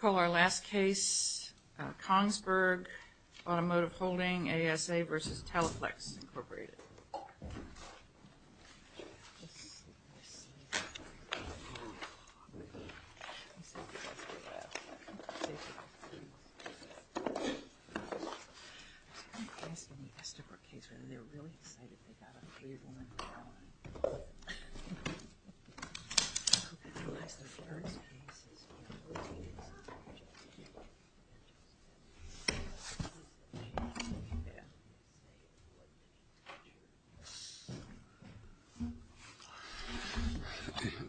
Call our last case Kongsberg automotive Holding ASA v. Teleflex Inc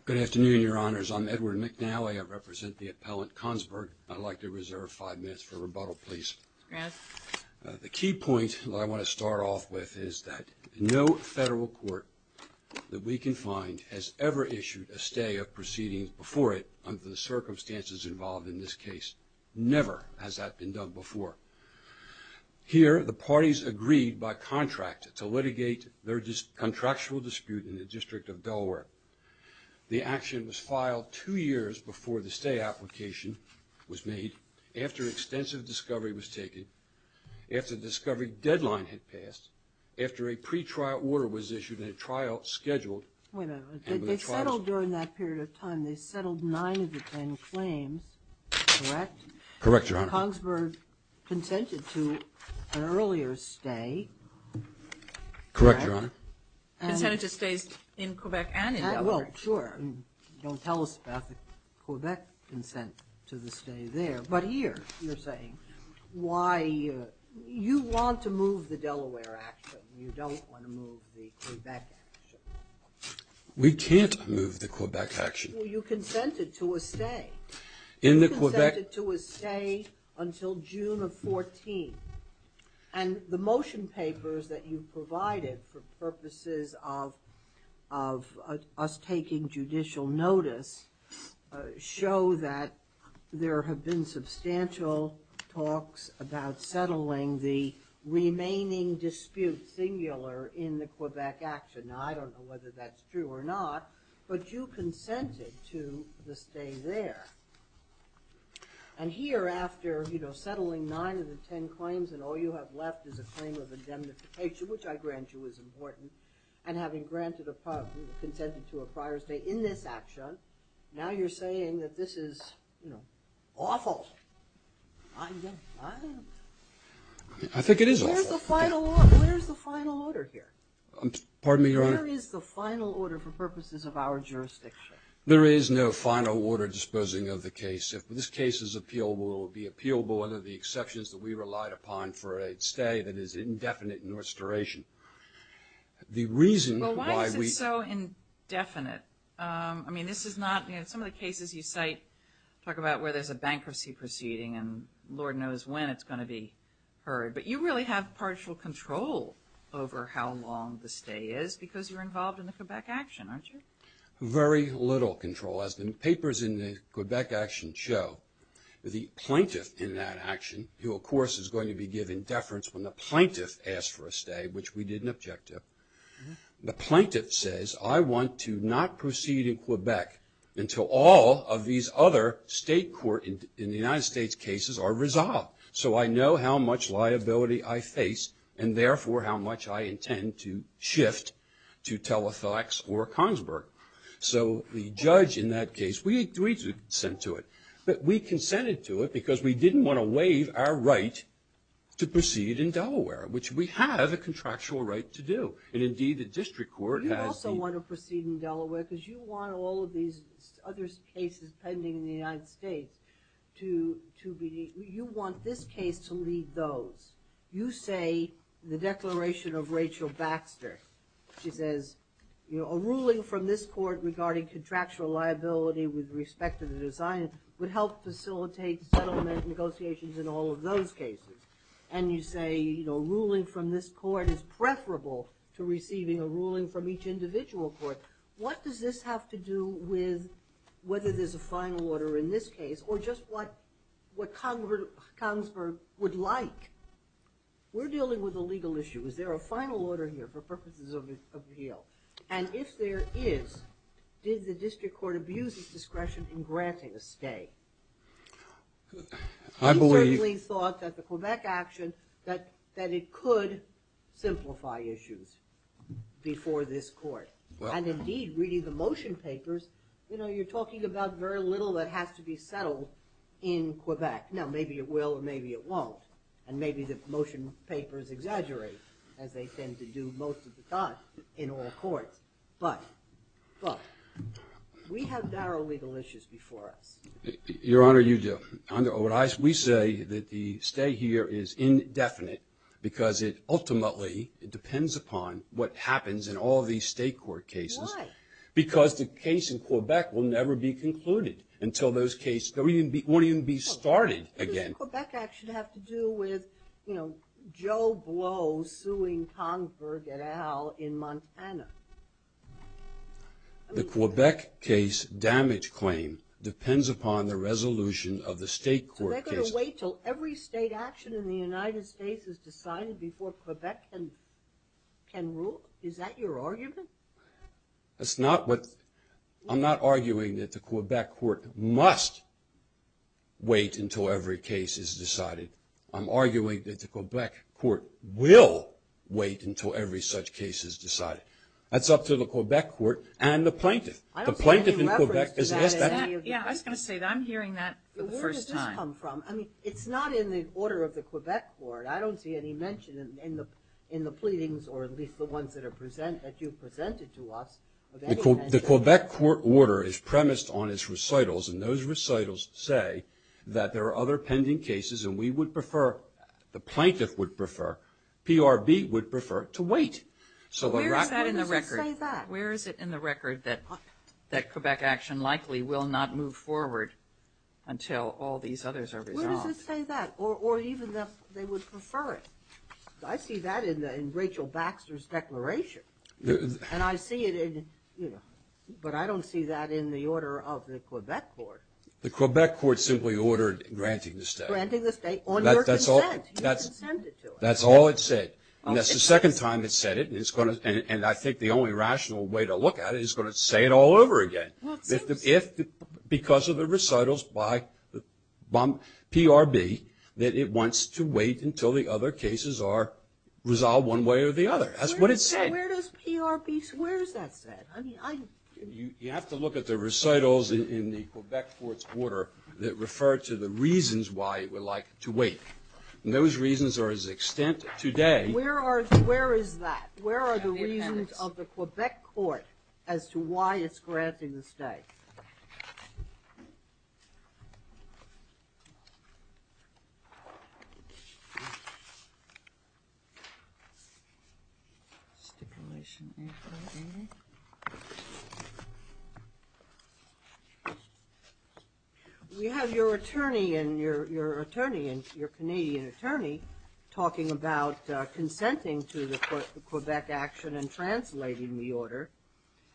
Good afternoon, your honors. I'm Edward McNally. I represent the appellant Kongsberg. I'd like to reserve five minutes for rebuttal, please. The key point that I want to start off with is that no federal court that we can find has ever issued a stay of proceedings before it under the case. Never has that been done before. Here the parties agreed by contract to litigate their contractual dispute in the District of Delaware. The action was filed two years before the stay application was made, after extensive discovery was taken, after the discovery deadline had passed, after a pre-trial order was issued and a trial scheduled. They settled during that period of Correct, your honor. Kongsberg consented to an earlier stay. Correct, your honor. Consented to stays in Quebec and in Delaware. Well, sure. Don't tell us about the Quebec consent to the stay there. But here you're saying why you want to move the Delaware action, you don't want to move the Quebec action. We can't move the Quebec action. Well, you consented to a stay. In the Quebec. You consented to a stay until June of 14. And the motion papers that you've provided for purposes of us taking judicial notice show that there have been substantial talks about I don't know whether that's true or not, but you consented to the stay there. And here after, you know, settling nine of the ten claims and all you have left is a claim of indemnification, which I grant you is important. And having granted a prior, consented to a prior stay in this action, now you're saying that this is, you know, awful. I think it is awful. Where's the final order here? Pardon me, your honor. Where is the final order for purposes of our jurisdiction? There is no final order disposing of the case. If this case is appealable, it will be appealable under the exceptions that we relied upon for a stay that is indefinite in its duration. The reason why we. Well, why is it so indefinite? I mean, this is not, you know, some of the cases you cite talk about where there's a bankruptcy proceeding and Lord knows when it's going to be heard. But you really have partial control over how long the stay is because you're involved in the Quebec action, aren't you? Very little control. As the papers in the Quebec action show, the plaintiff in that action, who of course is going to be given deference when the plaintiff asks for a stay, which we did in objective, the plaintiff says, I want to not proceed in Quebec until all of these other state court in the United States cases are resolved. So I know how much liability I face and therefore how much I intend to shift to Telethax or Consberg. So the judge in that case, we agreed to consent to it. But we consented to it because we didn't want to waive our right to proceed in Delaware, which we have a contractual right to do. And indeed, the district court has. But you also want to proceed in Delaware because you want all of these other cases pending in the United States to be, you want this case to leave those. You say, the declaration of Rachel Baxter, she says, you know, a ruling from this court regarding contractual liability with respect to the design would help facilitate settlement negotiations in all of those cases. And you say, you know, ruling from this court is preferable to receiving a ruling from each individual court. What does this have to do with whether there's a final order in this case or just what Consberg would like? We're dealing with a legal issue. Is there a final order here for purposes of appeal? And if there is, did the district court abuse its discretion in granting a stay? I believe— We certainly thought that the Quebec action, that it could simplify issues before this court. And indeed, reading the motion papers, you know, you're talking about very little that has to be settled in Quebec. Now, maybe it will or maybe it won't. And maybe the motion papers exaggerate, as they tend to do most of the time in all courts. But we have narrow legal issues before us. Your Honor, we say that the stay here is indefinite because it ultimately depends upon what happens in all of these state court cases. Why? Because the case in Quebec will never be concluded until those cases—it won't even be started again. What does the Quebec action have to do with, you know, Joe Blow suing Consberg et al. in Montana? The Quebec case damage claim depends upon the resolution of the state court cases. So they're going to wait until every state action in the United States is decided before Quebec can rule? Is that your argument? That's not what—I'm not arguing that the Quebec court must wait until every case is decided. I'm arguing that the Quebec court will wait until every such case is decided. That's up to the Quebec court and the plaintiff. I don't see any reference to that. Yeah, I was going to say that. I'm hearing that for the first time. I mean, it's not in the order of the Quebec court. I don't see any mention in the pleadings or at least the ones that are presented—that you've presented to us. The Quebec court order is premised on its recitals, and those recitals say that there are other pending cases, and we would prefer—the plaintiff would prefer—PRB would prefer to wait. Where is that in the record? Where does it say that? Where is it in the record that Quebec action likely will not move forward until all these others are resolved? Where does it say that? Or even that they would prefer it? I see that in Rachel Baxter's declaration, and I see it in—but I don't see that in the order of the Quebec court. The Quebec court simply ordered granting the state. Granting the state on your consent. That's all it said. And that's the second time it said it, and it's going to—and I think the only rational way to look at it is going to say it all over again. Well, it seems so. If—because of the recitals by PRB that it wants to wait until the other cases are resolved one way or the other. That's what it said. Where does PRB—where is that said? I mean, I— You have to look at the recitals in the Quebec court's order that refer to the reasons why it would like to wait. And those reasons are as extent today— Where are—where is that? Where are the reasons of the Quebec court as to why it's granting the state? Stipulation A580. We have your attorney and your attorney and your Canadian attorney talking about consenting to the Quebec action and translating the order.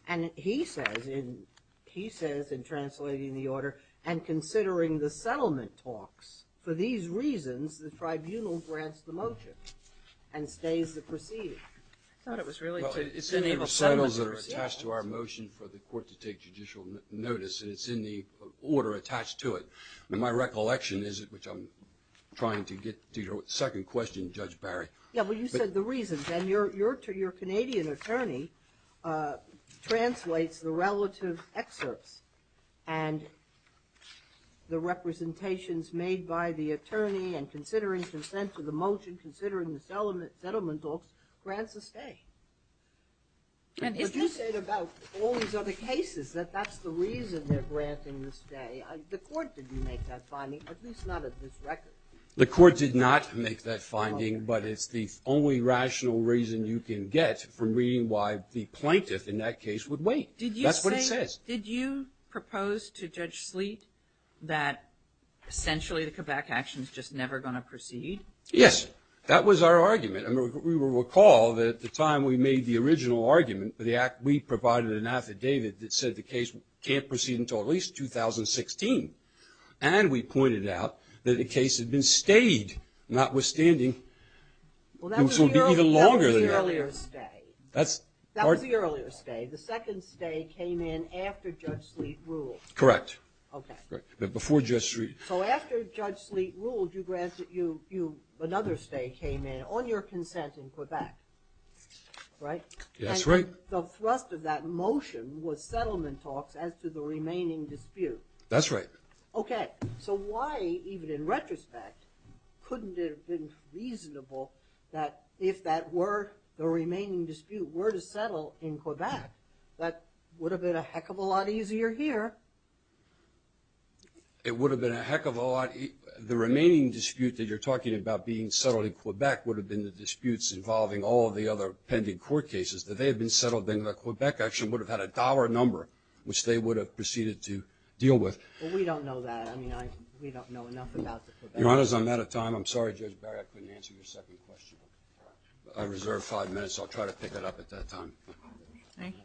And he says in—he says in translating the order and considering the settlement talks, for these reasons, the tribunal grants the motion and stays the proceedings. I thought it was really to— Well, it's in the recitals that are attached to our motion for the court to take judicial notice, and it's in the order attached to it. My recollection is, which I'm trying to get to your second question, Judge Barry— Yeah, well, you said the reasons. And your Canadian attorney translates the relative excerpts and the representations made by the attorney and considering consent to the motion, considering the settlement talks, grants the stay. But you said about all these other cases that that's the reason they're granting the stay. The court didn't make that finding, at least not at this record. The court did not make that finding, but it's the only rational reason you can get from reading why the plaintiff in that case would wait. That's what it says. Did you say—did you propose to Judge Sleet that essentially the Quebec action is just never going to proceed? Yes. That was our argument. I mean, we recall that at the time we made the original argument for the act, we provided an affidavit that said the case can't proceed until at least 2016. And we pointed out that the case had been stayed, notwithstanding it was going to be even longer than that. Well, that was the earlier stay. That was the earlier stay. The second stay came in after Judge Sleet ruled. Correct. Okay. But before Judge Sleet— So after Judge Sleet ruled, another stay came in on your consent in Quebec, right? That's right. And the thrust of that motion was settlement talks as to the remaining dispute. That's right. Okay. So why, even in retrospect, couldn't it have been reasonable that if that were the remaining dispute, were to settle in Quebec, that would have been a heck of a lot easier here? It would have been a heck of a lot—the remaining dispute that you're talking about being settled in Quebec would have been the disputes involving all the other pending court cases. That they had been settled in the Quebec action would have had a dollar number, which they would have proceeded to deal with. Well, we don't know that. I mean, we don't know enough about the Quebec case. Your Honor, I'm out of time. I'm sorry, Judge Barrett, I couldn't answer your second question. I reserve five minutes. I'll try to pick it up at that time. Thank you.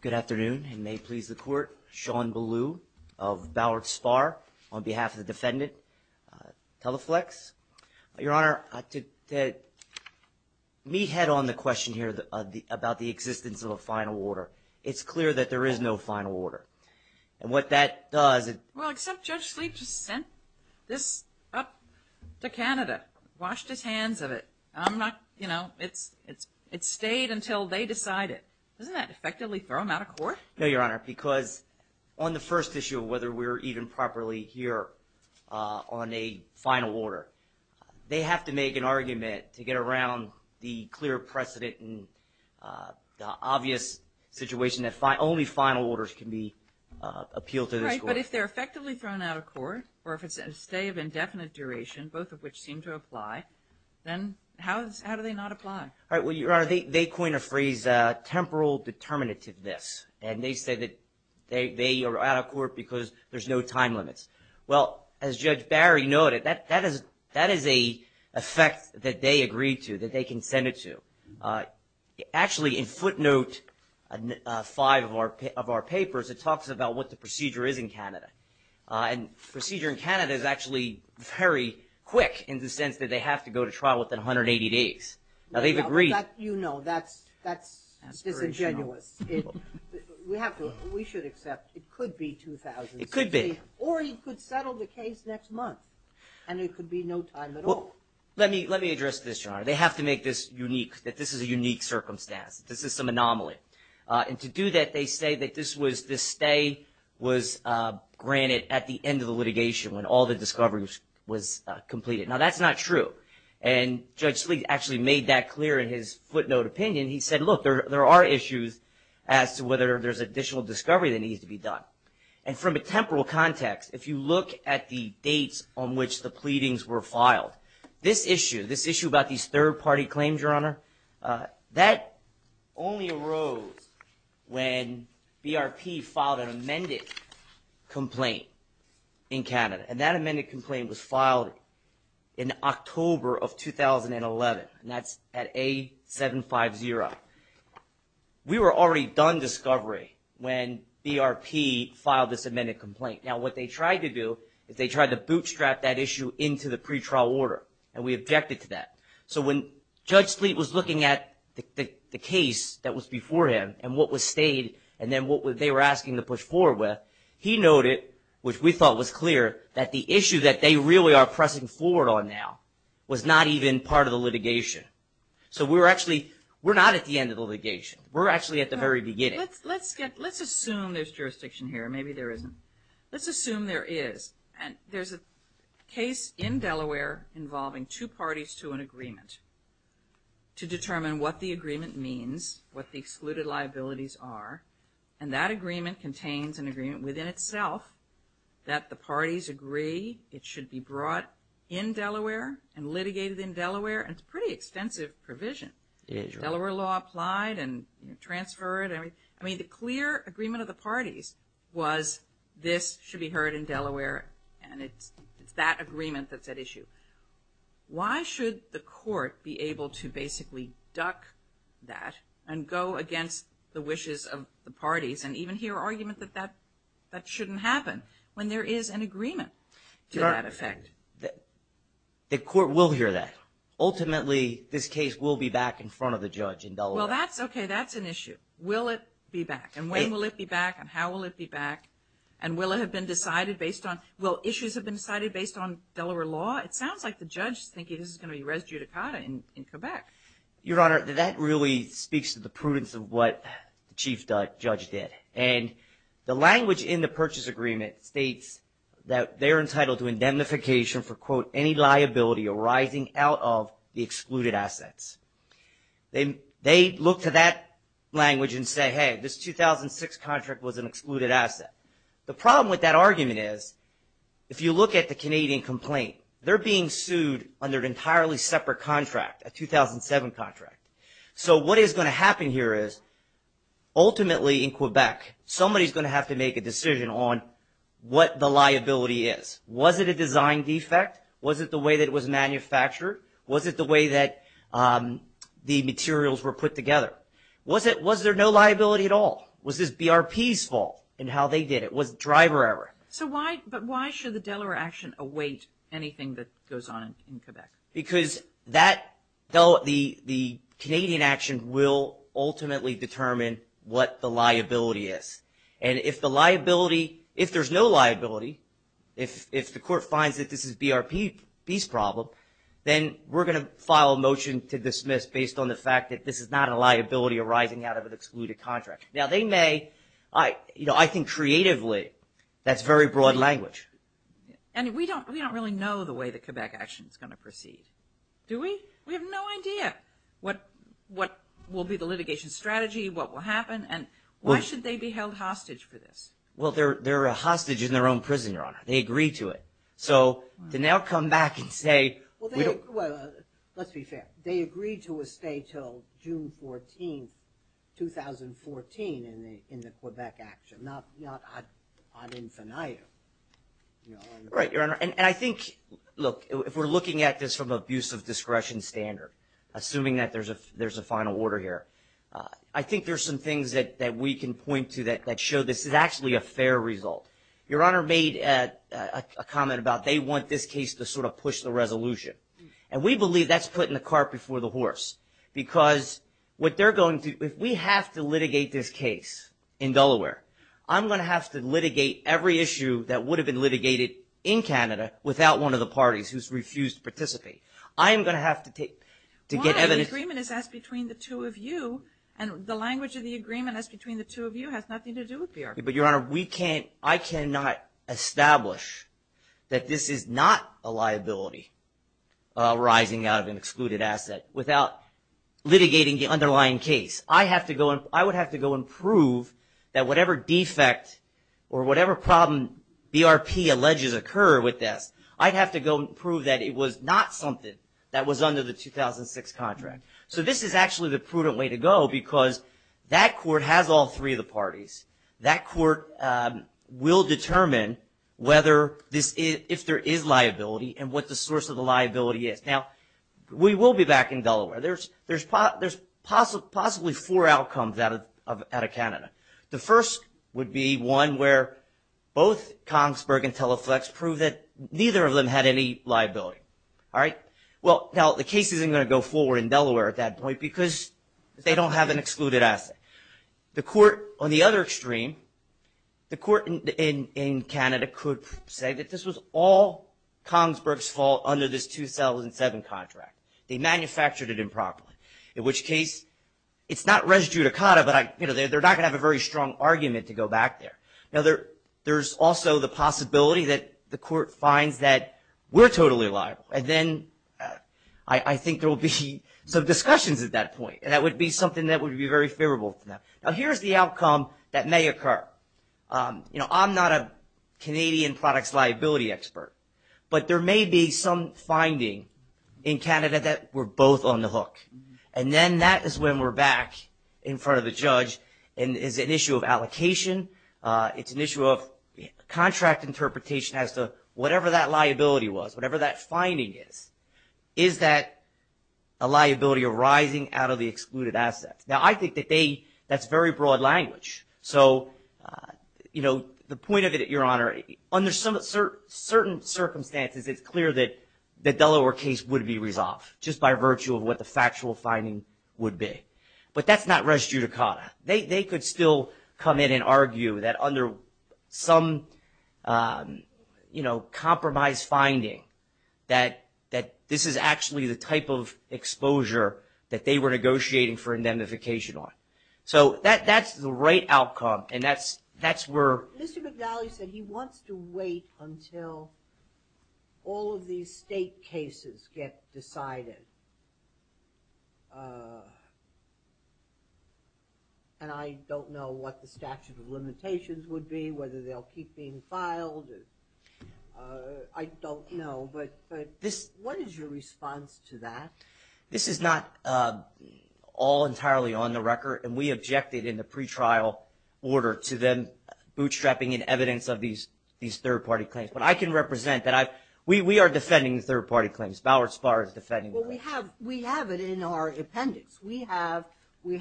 Good afternoon. And may it please the Court, Sean Ballew of Ballard Spar on behalf of the defendant, Teleflex. Your Honor, to meathead on the question here about the existence of a final order, it's clear that there is no final order. And what that does— Well, except Judge Sleeve just sent this up to Canada, washed his hands of it. I'm not—you know, it stayed until they decided. Doesn't that effectively throw them out of court? No, Your Honor, because on the first issue of whether we're even properly here on a final order, they have to make an argument to get around the clear precedent and the obvious situation that only final orders can be appealed to this court. Right, but if they're effectively thrown out of court, or if it's a stay of indefinite duration, both of which seem to apply, then how do they not apply? All right, well, Your Honor, they coin a phrase, temporal determinativeness. And they say that they are out of court because there's no time limits. Well, as Judge Barry noted, that is an effect that they agreed to, that they consented to. Actually, in footnote 5 of our papers, it talks about what the procedure is in Canada. And procedure in Canada is actually very quick in the sense that they have to go to trial within 180 days. Now, they've agreed. You know, that's disingenuous. We should accept it could be 2016. It could be. Or you could settle the case next month, and there could be no time at all. Let me address this, Your Honor. They have to make this unique, that this is a unique circumstance, this is some anomaly. And to do that, they say that this stay was granted at the end of the litigation when all the discovery was completed. Now, that's not true. And Judge Sleet actually made that clear in his footnote opinion. He said, look, there are issues as to whether there's additional discovery that needs to be done. And from a temporal context, if you look at the dates on which the pleadings were filed, this issue, this issue about these third-party claims, Your Honor, that only arose when BRP filed an amended complaint in Canada. And that amended complaint was filed in October of 2011. And that's at A750. We were already done discovery when BRP filed this amended complaint. Now, what they tried to do is they tried to bootstrap that issue into the pretrial order, and we objected to that. So when Judge Sleet was looking at the case that was before him and what was stayed and then what they were asking to push forward with, he noted, which we thought was clear, that the issue that they really are pressing forward on now was not even part of the litigation. So we're actually, we're not at the end of the litigation. We're actually at the very beginning. Let's assume there's jurisdiction here. Maybe there isn't. Let's assume there is. And there's a case in Delaware involving two parties to an agreement to determine what the agreement means, what the excluded liabilities are. And that agreement contains an agreement within itself that the parties agree it should be brought in Delaware and litigated in Delaware. And it's a pretty extensive provision. Delaware law applied and transferred. I mean, the clear agreement of the parties was this should be heard in Delaware and it's that agreement that's at issue. Why should the court be able to basically duck that and go against the wishes of the parties and even hear argument that that shouldn't happen when there is an agreement to that effect? The court will hear that. Ultimately, this case will be back in front of the judge in Delaware. Well, that's okay. That's an issue. Will it be back? And when will it be back? And how will it be back? And will it have been decided based on, will issues have been decided based on Delaware law? It sounds like the judge is thinking this is going to be res judicata in Quebec. Your Honor, that really speaks to the prudence of what the Chief Judge did. And the language in the purchase agreement states that they're entitled to indemnification for, quote, any liability arising out of the excluded assets. They look to that language and say, hey, this 2006 contract was an excluded asset. The problem with that argument is if you look at the Canadian complaint, they're being sued under an entirely separate contract, a 2007 contract. So what is going to happen here is ultimately in Quebec, somebody is going to have to make a decision on what the liability is. Was it a design defect? Was it the way that it was manufactured? Was it the way that the materials were put together? Was there no liability at all? Was this BRP's fault in how they did it? Was it driver error? So why, but why should the Delaware action await anything that goes on in Quebec? Because that, the Canadian action will ultimately determine what the liability is. And if the liability, if there's no liability, if the court finds that this is BRP's problem, then we're going to file a motion to dismiss based on the fact that this is not a liability arising out of an excluded contract. Now, they may, you know, I think creatively that's very broad language. And we don't really know the way the Quebec action is going to proceed. Do we? We have no idea what will be the litigation strategy, what will happen, and why should they be held hostage for this? Well, they're a hostage in their own prison, Your Honor. They agreed to it. So to now come back and say we don't. Well, let's be fair. They agreed to a stay till June 14, 2014 in the Quebec action, not ad infinitum. Right, Your Honor. And I think, look, if we're looking at this from an abuse of discretion standard, assuming that there's a final order here, I think there's some things that we can point to that show this is actually a fair result. Your Honor made a comment about they want this case to sort of push the resolution. And we believe that's putting the cart before the horse because what they're going to do, if we have to litigate this case in Delaware, I'm going to have to litigate every issue that would have been litigated in Canada without one of the parties who's refused to participate. I am going to have to get evidence. Why? The agreement is between the two of you, and the language of the agreement is between the two of you has nothing to do with BRP. But, Your Honor, I cannot establish that this is not a liability arising out of an excluded asset without litigating the underlying case. I would have to go and prove that whatever defect or whatever problem BRP alleges occur with this, I'd have to go prove that it was not something that was under the 2006 contract. So this is actually the prudent way to go because that court has all three of the parties. That court will determine if there is liability and what the source of the liability is. Now, we will be back in Delaware. There's possibly four outcomes out of Canada. The first would be one where both Kongsberg and Teleflex prove that neither of them had any liability. Well, now the case isn't going to go forward in Delaware at that point because they don't have an excluded asset. The court on the other extreme, the court in Canada could say that this was all Kongsberg's fault under this 2007 contract. They manufactured it improperly, in which case it's not res judicata, but they're not going to have a very strong argument to go back there. Now, there's also the possibility that the court finds that we're totally liable, and then I think there will be some discussions at that point. That would be something that would be very favorable to them. Now, here's the outcome that may occur. I'm not a Canadian products liability expert, but there may be some finding in Canada that we're both on the hook, and then that is when we're back in front of the judge, and it's an issue of allocation. It's an issue of contract interpretation as to whatever that liability was, whatever that finding is. Is that a liability arising out of the excluded assets? Now, I think that that's very broad language, so the point of it, Your Honor, under certain circumstances, it's clear that the Delaware case would be resolved just by virtue of what the factual finding would be, but that's not res judicata. They could still come in and argue that under some, you know, compromise finding, that this is actually the type of exposure that they were negotiating for indemnification on. So that's the right outcome, and that's where... Mr. McNally said he wants to wait until all of these state cases get decided, and I don't know what the statute of limitations would be, whether they'll keep being filed. I don't know, but what is your response to that? This is not all entirely on the record, and we objected in the pretrial order to them bootstrapping in evidence of these third-party claims, but I can represent that we are defending the third-party claims. Ballard Spahr is defending the claims. Well, we have it in our appendix. We have Ms.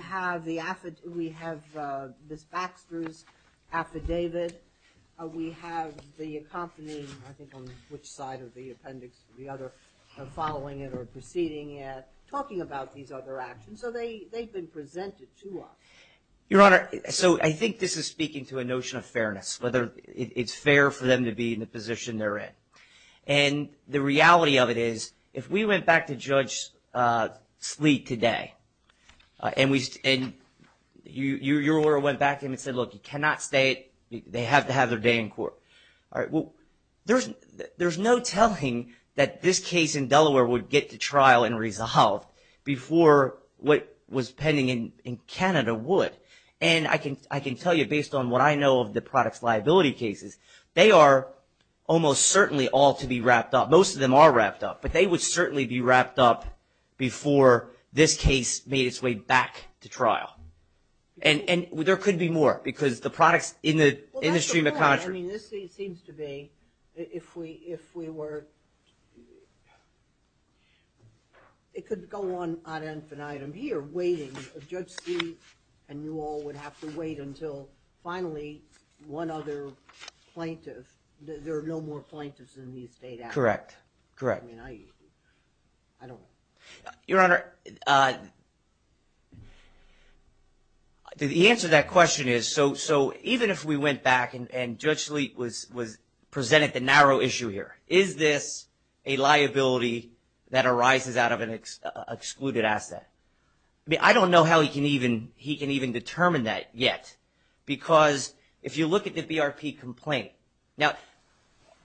Baxter's affidavit. We have the accompanying, I think on which side of the appendix, the other, following it or proceeding it, talking about these other actions, so they've been presented to us. Your Honor, so I think this is speaking to a notion of fairness, whether it's fair for them to be in the position they're in, and the reality of it is if we went back to Judge Sleet today and your order went back to him and said, look, you cannot stay. They have to have their day in court. There's no telling that this case in Delaware would get to trial and resolved before what was pending in Canada would, and I can tell you based on what I know of the products liability cases, they are almost certainly all to be wrapped up. Most of them are wrapped up, but they would certainly be wrapped up before this case made its way back to trial, and there could be more because the products in the industry in the country. Well, that's the point. I mean, this seems to be, if we were, it could go on ad infinitum here waiting for Judge Sleet, and you all would have to wait until finally one other plaintiff, there are no more plaintiffs in these data. Correct, correct. I mean, I don't know. Your Honor, the answer to that question is so even if we went back and Judge Sleet presented the narrow issue here, is this a liability that arises out of an excluded asset? I mean, I don't know how he can even determine that yet because if you look at the BRP complaint, now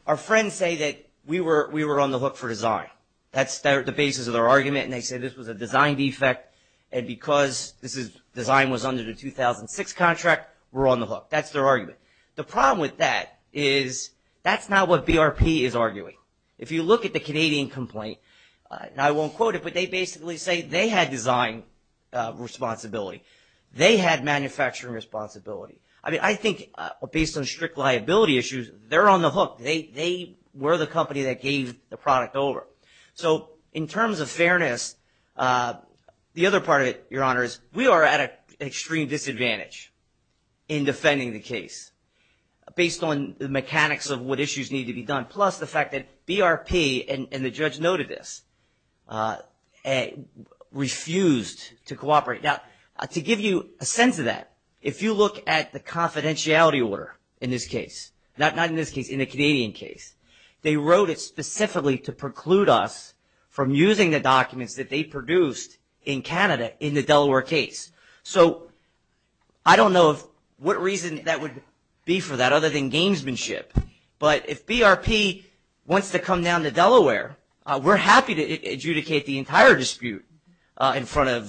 our friends say that we were on the hook for design. That's the basis of their argument, and they say this was a design defect, and because design was under the 2006 contract, we're on the hook. That's their argument. The problem with that is that's not what BRP is arguing. If you look at the Canadian complaint, and I won't quote it, but they basically say they had design responsibility. They had manufacturing responsibility. I mean, I think based on strict liability issues, they're on the hook. They were the company that gave the product over. So in terms of fairness, the other part of it, Your Honor, is we are at an extreme disadvantage in defending the case based on the mechanics of what issues need to be done plus the fact that BRP, and the judge noted this, refused to cooperate. Now to give you a sense of that, if you look at the confidentiality order in this case, not in this case, in the Canadian case, they wrote it specifically to preclude us from using the documents that they produced in Canada in the Delaware case. So I don't know what reason that would be for that other than gamesmanship, but if BRP wants to come down to Delaware, we're happy to adjudicate the entire dispute in front of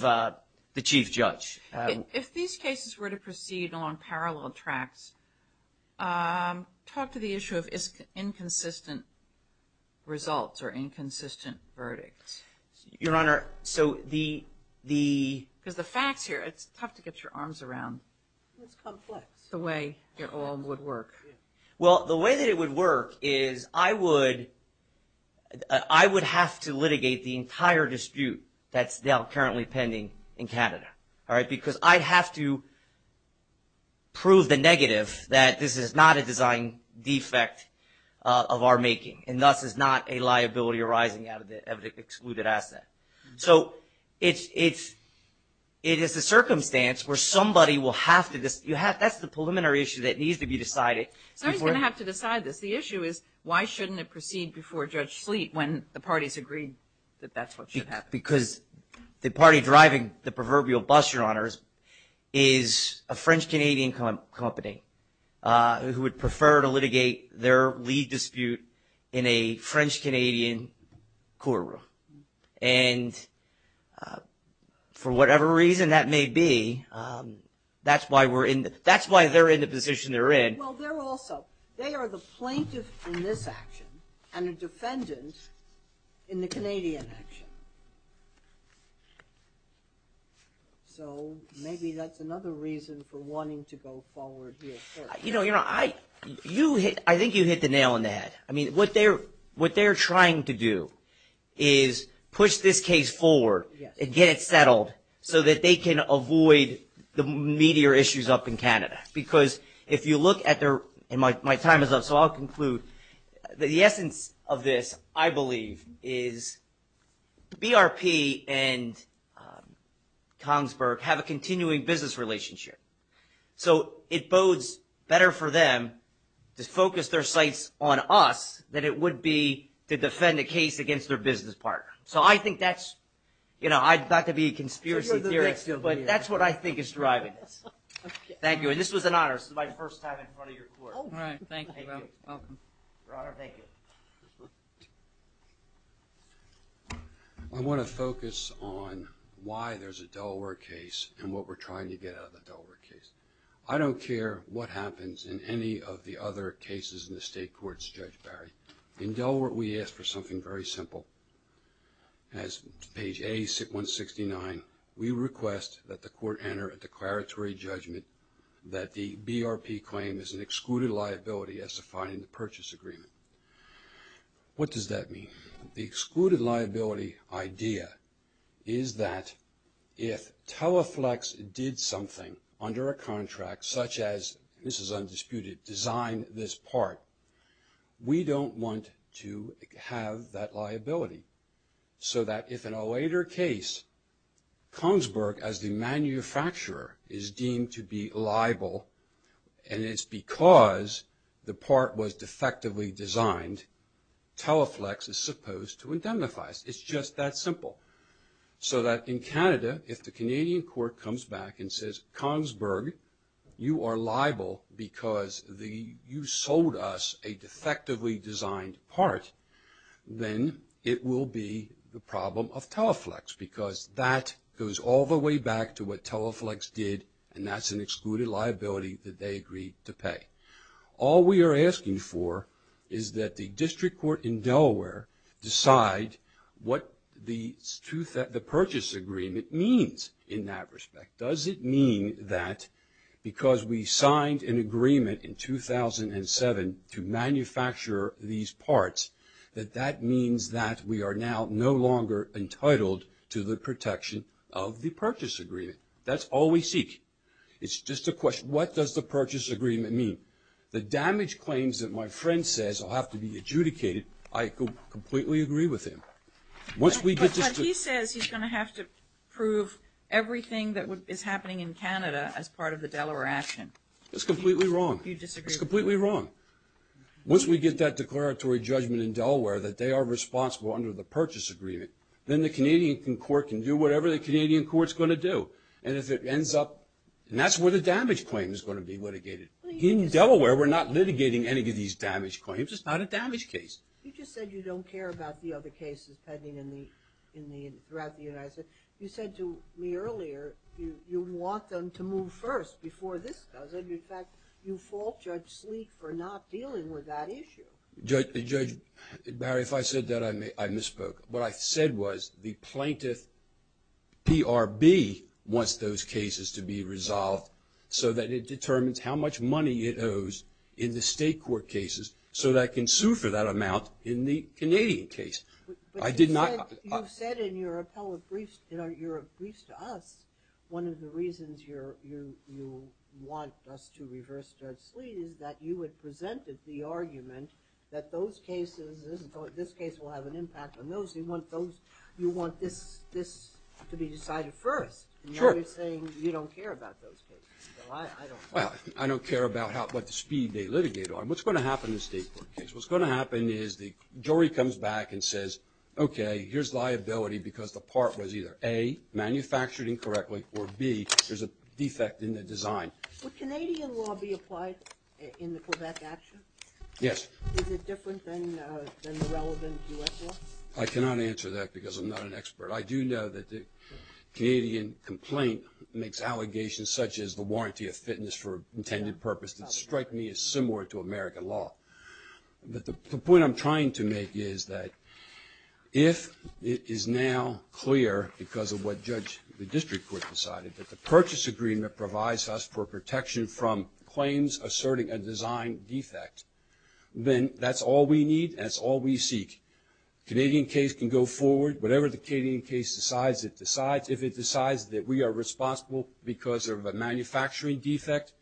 the chief judge. If these cases were to proceed along parallel tracks, talk to the issue of inconsistent results or inconsistent verdicts. Your Honor, so the... Because the facts here, it's tough to get your arms around. It's complex. The way it all would work. Well, the way that it would work is I would have to litigate the entire dispute that's now currently pending in Canada, because I have to prove the negative that this is not a design defect of our making, and thus is not a liability arising out of the excluded asset. So it is a circumstance where somebody will have to... That's the preliminary issue that needs to be decided. Somebody's going to have to decide this. The issue is why shouldn't it proceed before Judge Sleet when the parties agreed that that's what should happen. Because the party driving the proverbial bus, Your Honors, is a French-Canadian company who would prefer to litigate their lead dispute in a French-Canadian courtroom. And for whatever reason that may be, that's why we're in... That's why they're in the position they're in. Well, they're also... They are the plaintiff in this action and a defendant in the Canadian action. So maybe that's another reason for wanting to go forward here. You know, I think you hit the nail on the head. I mean, what they're trying to do is push this case forward and get it settled so that they can avoid the meatier issues up in Canada. Because if you look at their... And my time is up, so I'll conclude. The essence of this, I believe, is BRP and Kongsberg have a continuing business relationship. So it bodes better for them to focus their sights on us than it would be to defend a case against their business partner. So I think that's... You know, I'd like to be a conspiracy theorist, but that's what I think is driving this. Thank you. And this was an honor. This is my first time in front of your court. All right. Thank you. You're welcome. Your Honor, thank you. I want to focus on why there's a Delaware case and what we're trying to get out of the Delaware case. I don't care what happens in any of the other cases in the state courts, Judge Barry. In Delaware, we ask for something very simple. As page A169, we request that the court enter a declaratory judgment that the BRP claim is an excluded liability as defined in the purchase agreement. What does that mean? The excluded liability idea is that if Teleflex did something under a contract, such as, this is undisputed, design this part, we don't want to have that liability. So that if in a later case, Kongsberg, as the manufacturer, is deemed to be liable, and it's because the part was defectively designed, Teleflex is supposed to indemnify us. It's just that simple. So that in Canada, if the Canadian court comes back and says, Kongsberg, you are liable because you sold us a defectively designed part, then it will be the problem of Teleflex, because that goes all the way back to what Teleflex did, and that's an excluded liability that they agreed to pay. All we are asking for is that the district court in Delaware decide what the purchase agreement means in that respect. Does it mean that because we signed an agreement in 2007 to manufacture these parts, that that means that we are now no longer entitled to the protection of the purchase agreement? That's all we seek. It's just a question, what does the purchase agreement mean? The damage claims that my friend says will have to be adjudicated, I completely agree with him. But he says he's going to have to prove everything that is happening in Canada as part of the Delaware action. That's completely wrong. You disagree with him? It's completely wrong. Once we get that declaratory judgment in Delaware that they are responsible under the purchase agreement, then the Canadian court can do whatever the Canadian court's going to do, and if it ends up, and that's where the damage claim is going to be litigated. In Delaware, we're not litigating any of these damage claims. It's not a damage case. You just said you don't care about the other cases pending throughout the United States. You said to me earlier you want them to move first before this does, and, in fact, you fault Judge Sleek for not dealing with that issue. Judge, Barry, if I said that, I misspoke. What I said was the plaintiff, PRB, wants those cases to be resolved so that it determines how much money it owes in the state court cases so that it can sue for that amount in the Canadian case. But you said in your appellate briefs, in your briefs to us, one of the reasons you want us to reverse Judge Sleek is that you had presented the argument that those cases, this case will have an impact on those. You want this to be decided first. Sure. And now you're saying you don't care about those cases. Well, I don't care about what speed they litigate on. What's going to happen in the state court case? What's going to happen is the jury comes back and says, okay, here's liability because the part was either, A, manufactured incorrectly, or, B, there's a defect in the design. Would Canadian law be applied in the Quebec action? Yes. Is it different than the relevant U.S. law? I cannot answer that because I'm not an expert. I do know that the Canadian complaint makes allegations such as the warranty of fitness for intended purpose that strike me as similar to American law. But the point I'm trying to make is that if it is now clear, because of what the district court decided, that the purchase agreement provides us for protection from claims asserting a design defect, then that's all we need and that's all we seek. The Canadian case can go forward. Whatever the Canadian case decides, it decides. If it decides that we are responsible because of a manufacturing defect,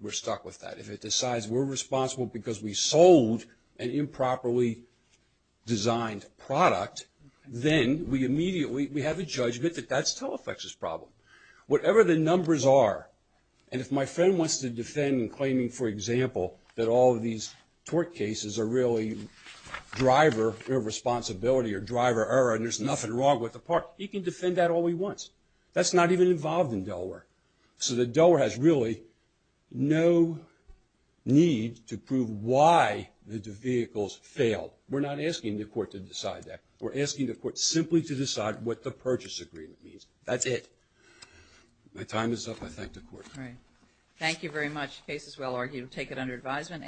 we're stuck with that. If it decides we're responsible because we sold an improperly designed product, then we immediately have a judgment that that's Telefex's problem. Whatever the numbers are, and if my friend wants to defend in claiming, for example, that all of these tort cases are really driver irresponsibility or driver error and there's nothing wrong with the part, he can defend that all he wants. That's not even involved in Delaware. So Delaware has really no need to prove why the vehicles failed. We're not asking the court to decide that. We're asking the court simply to decide what the purchase agreement means. That's it. My time is up. I thank the court. Thank you very much. The case is well argued. We'll take it under advisement.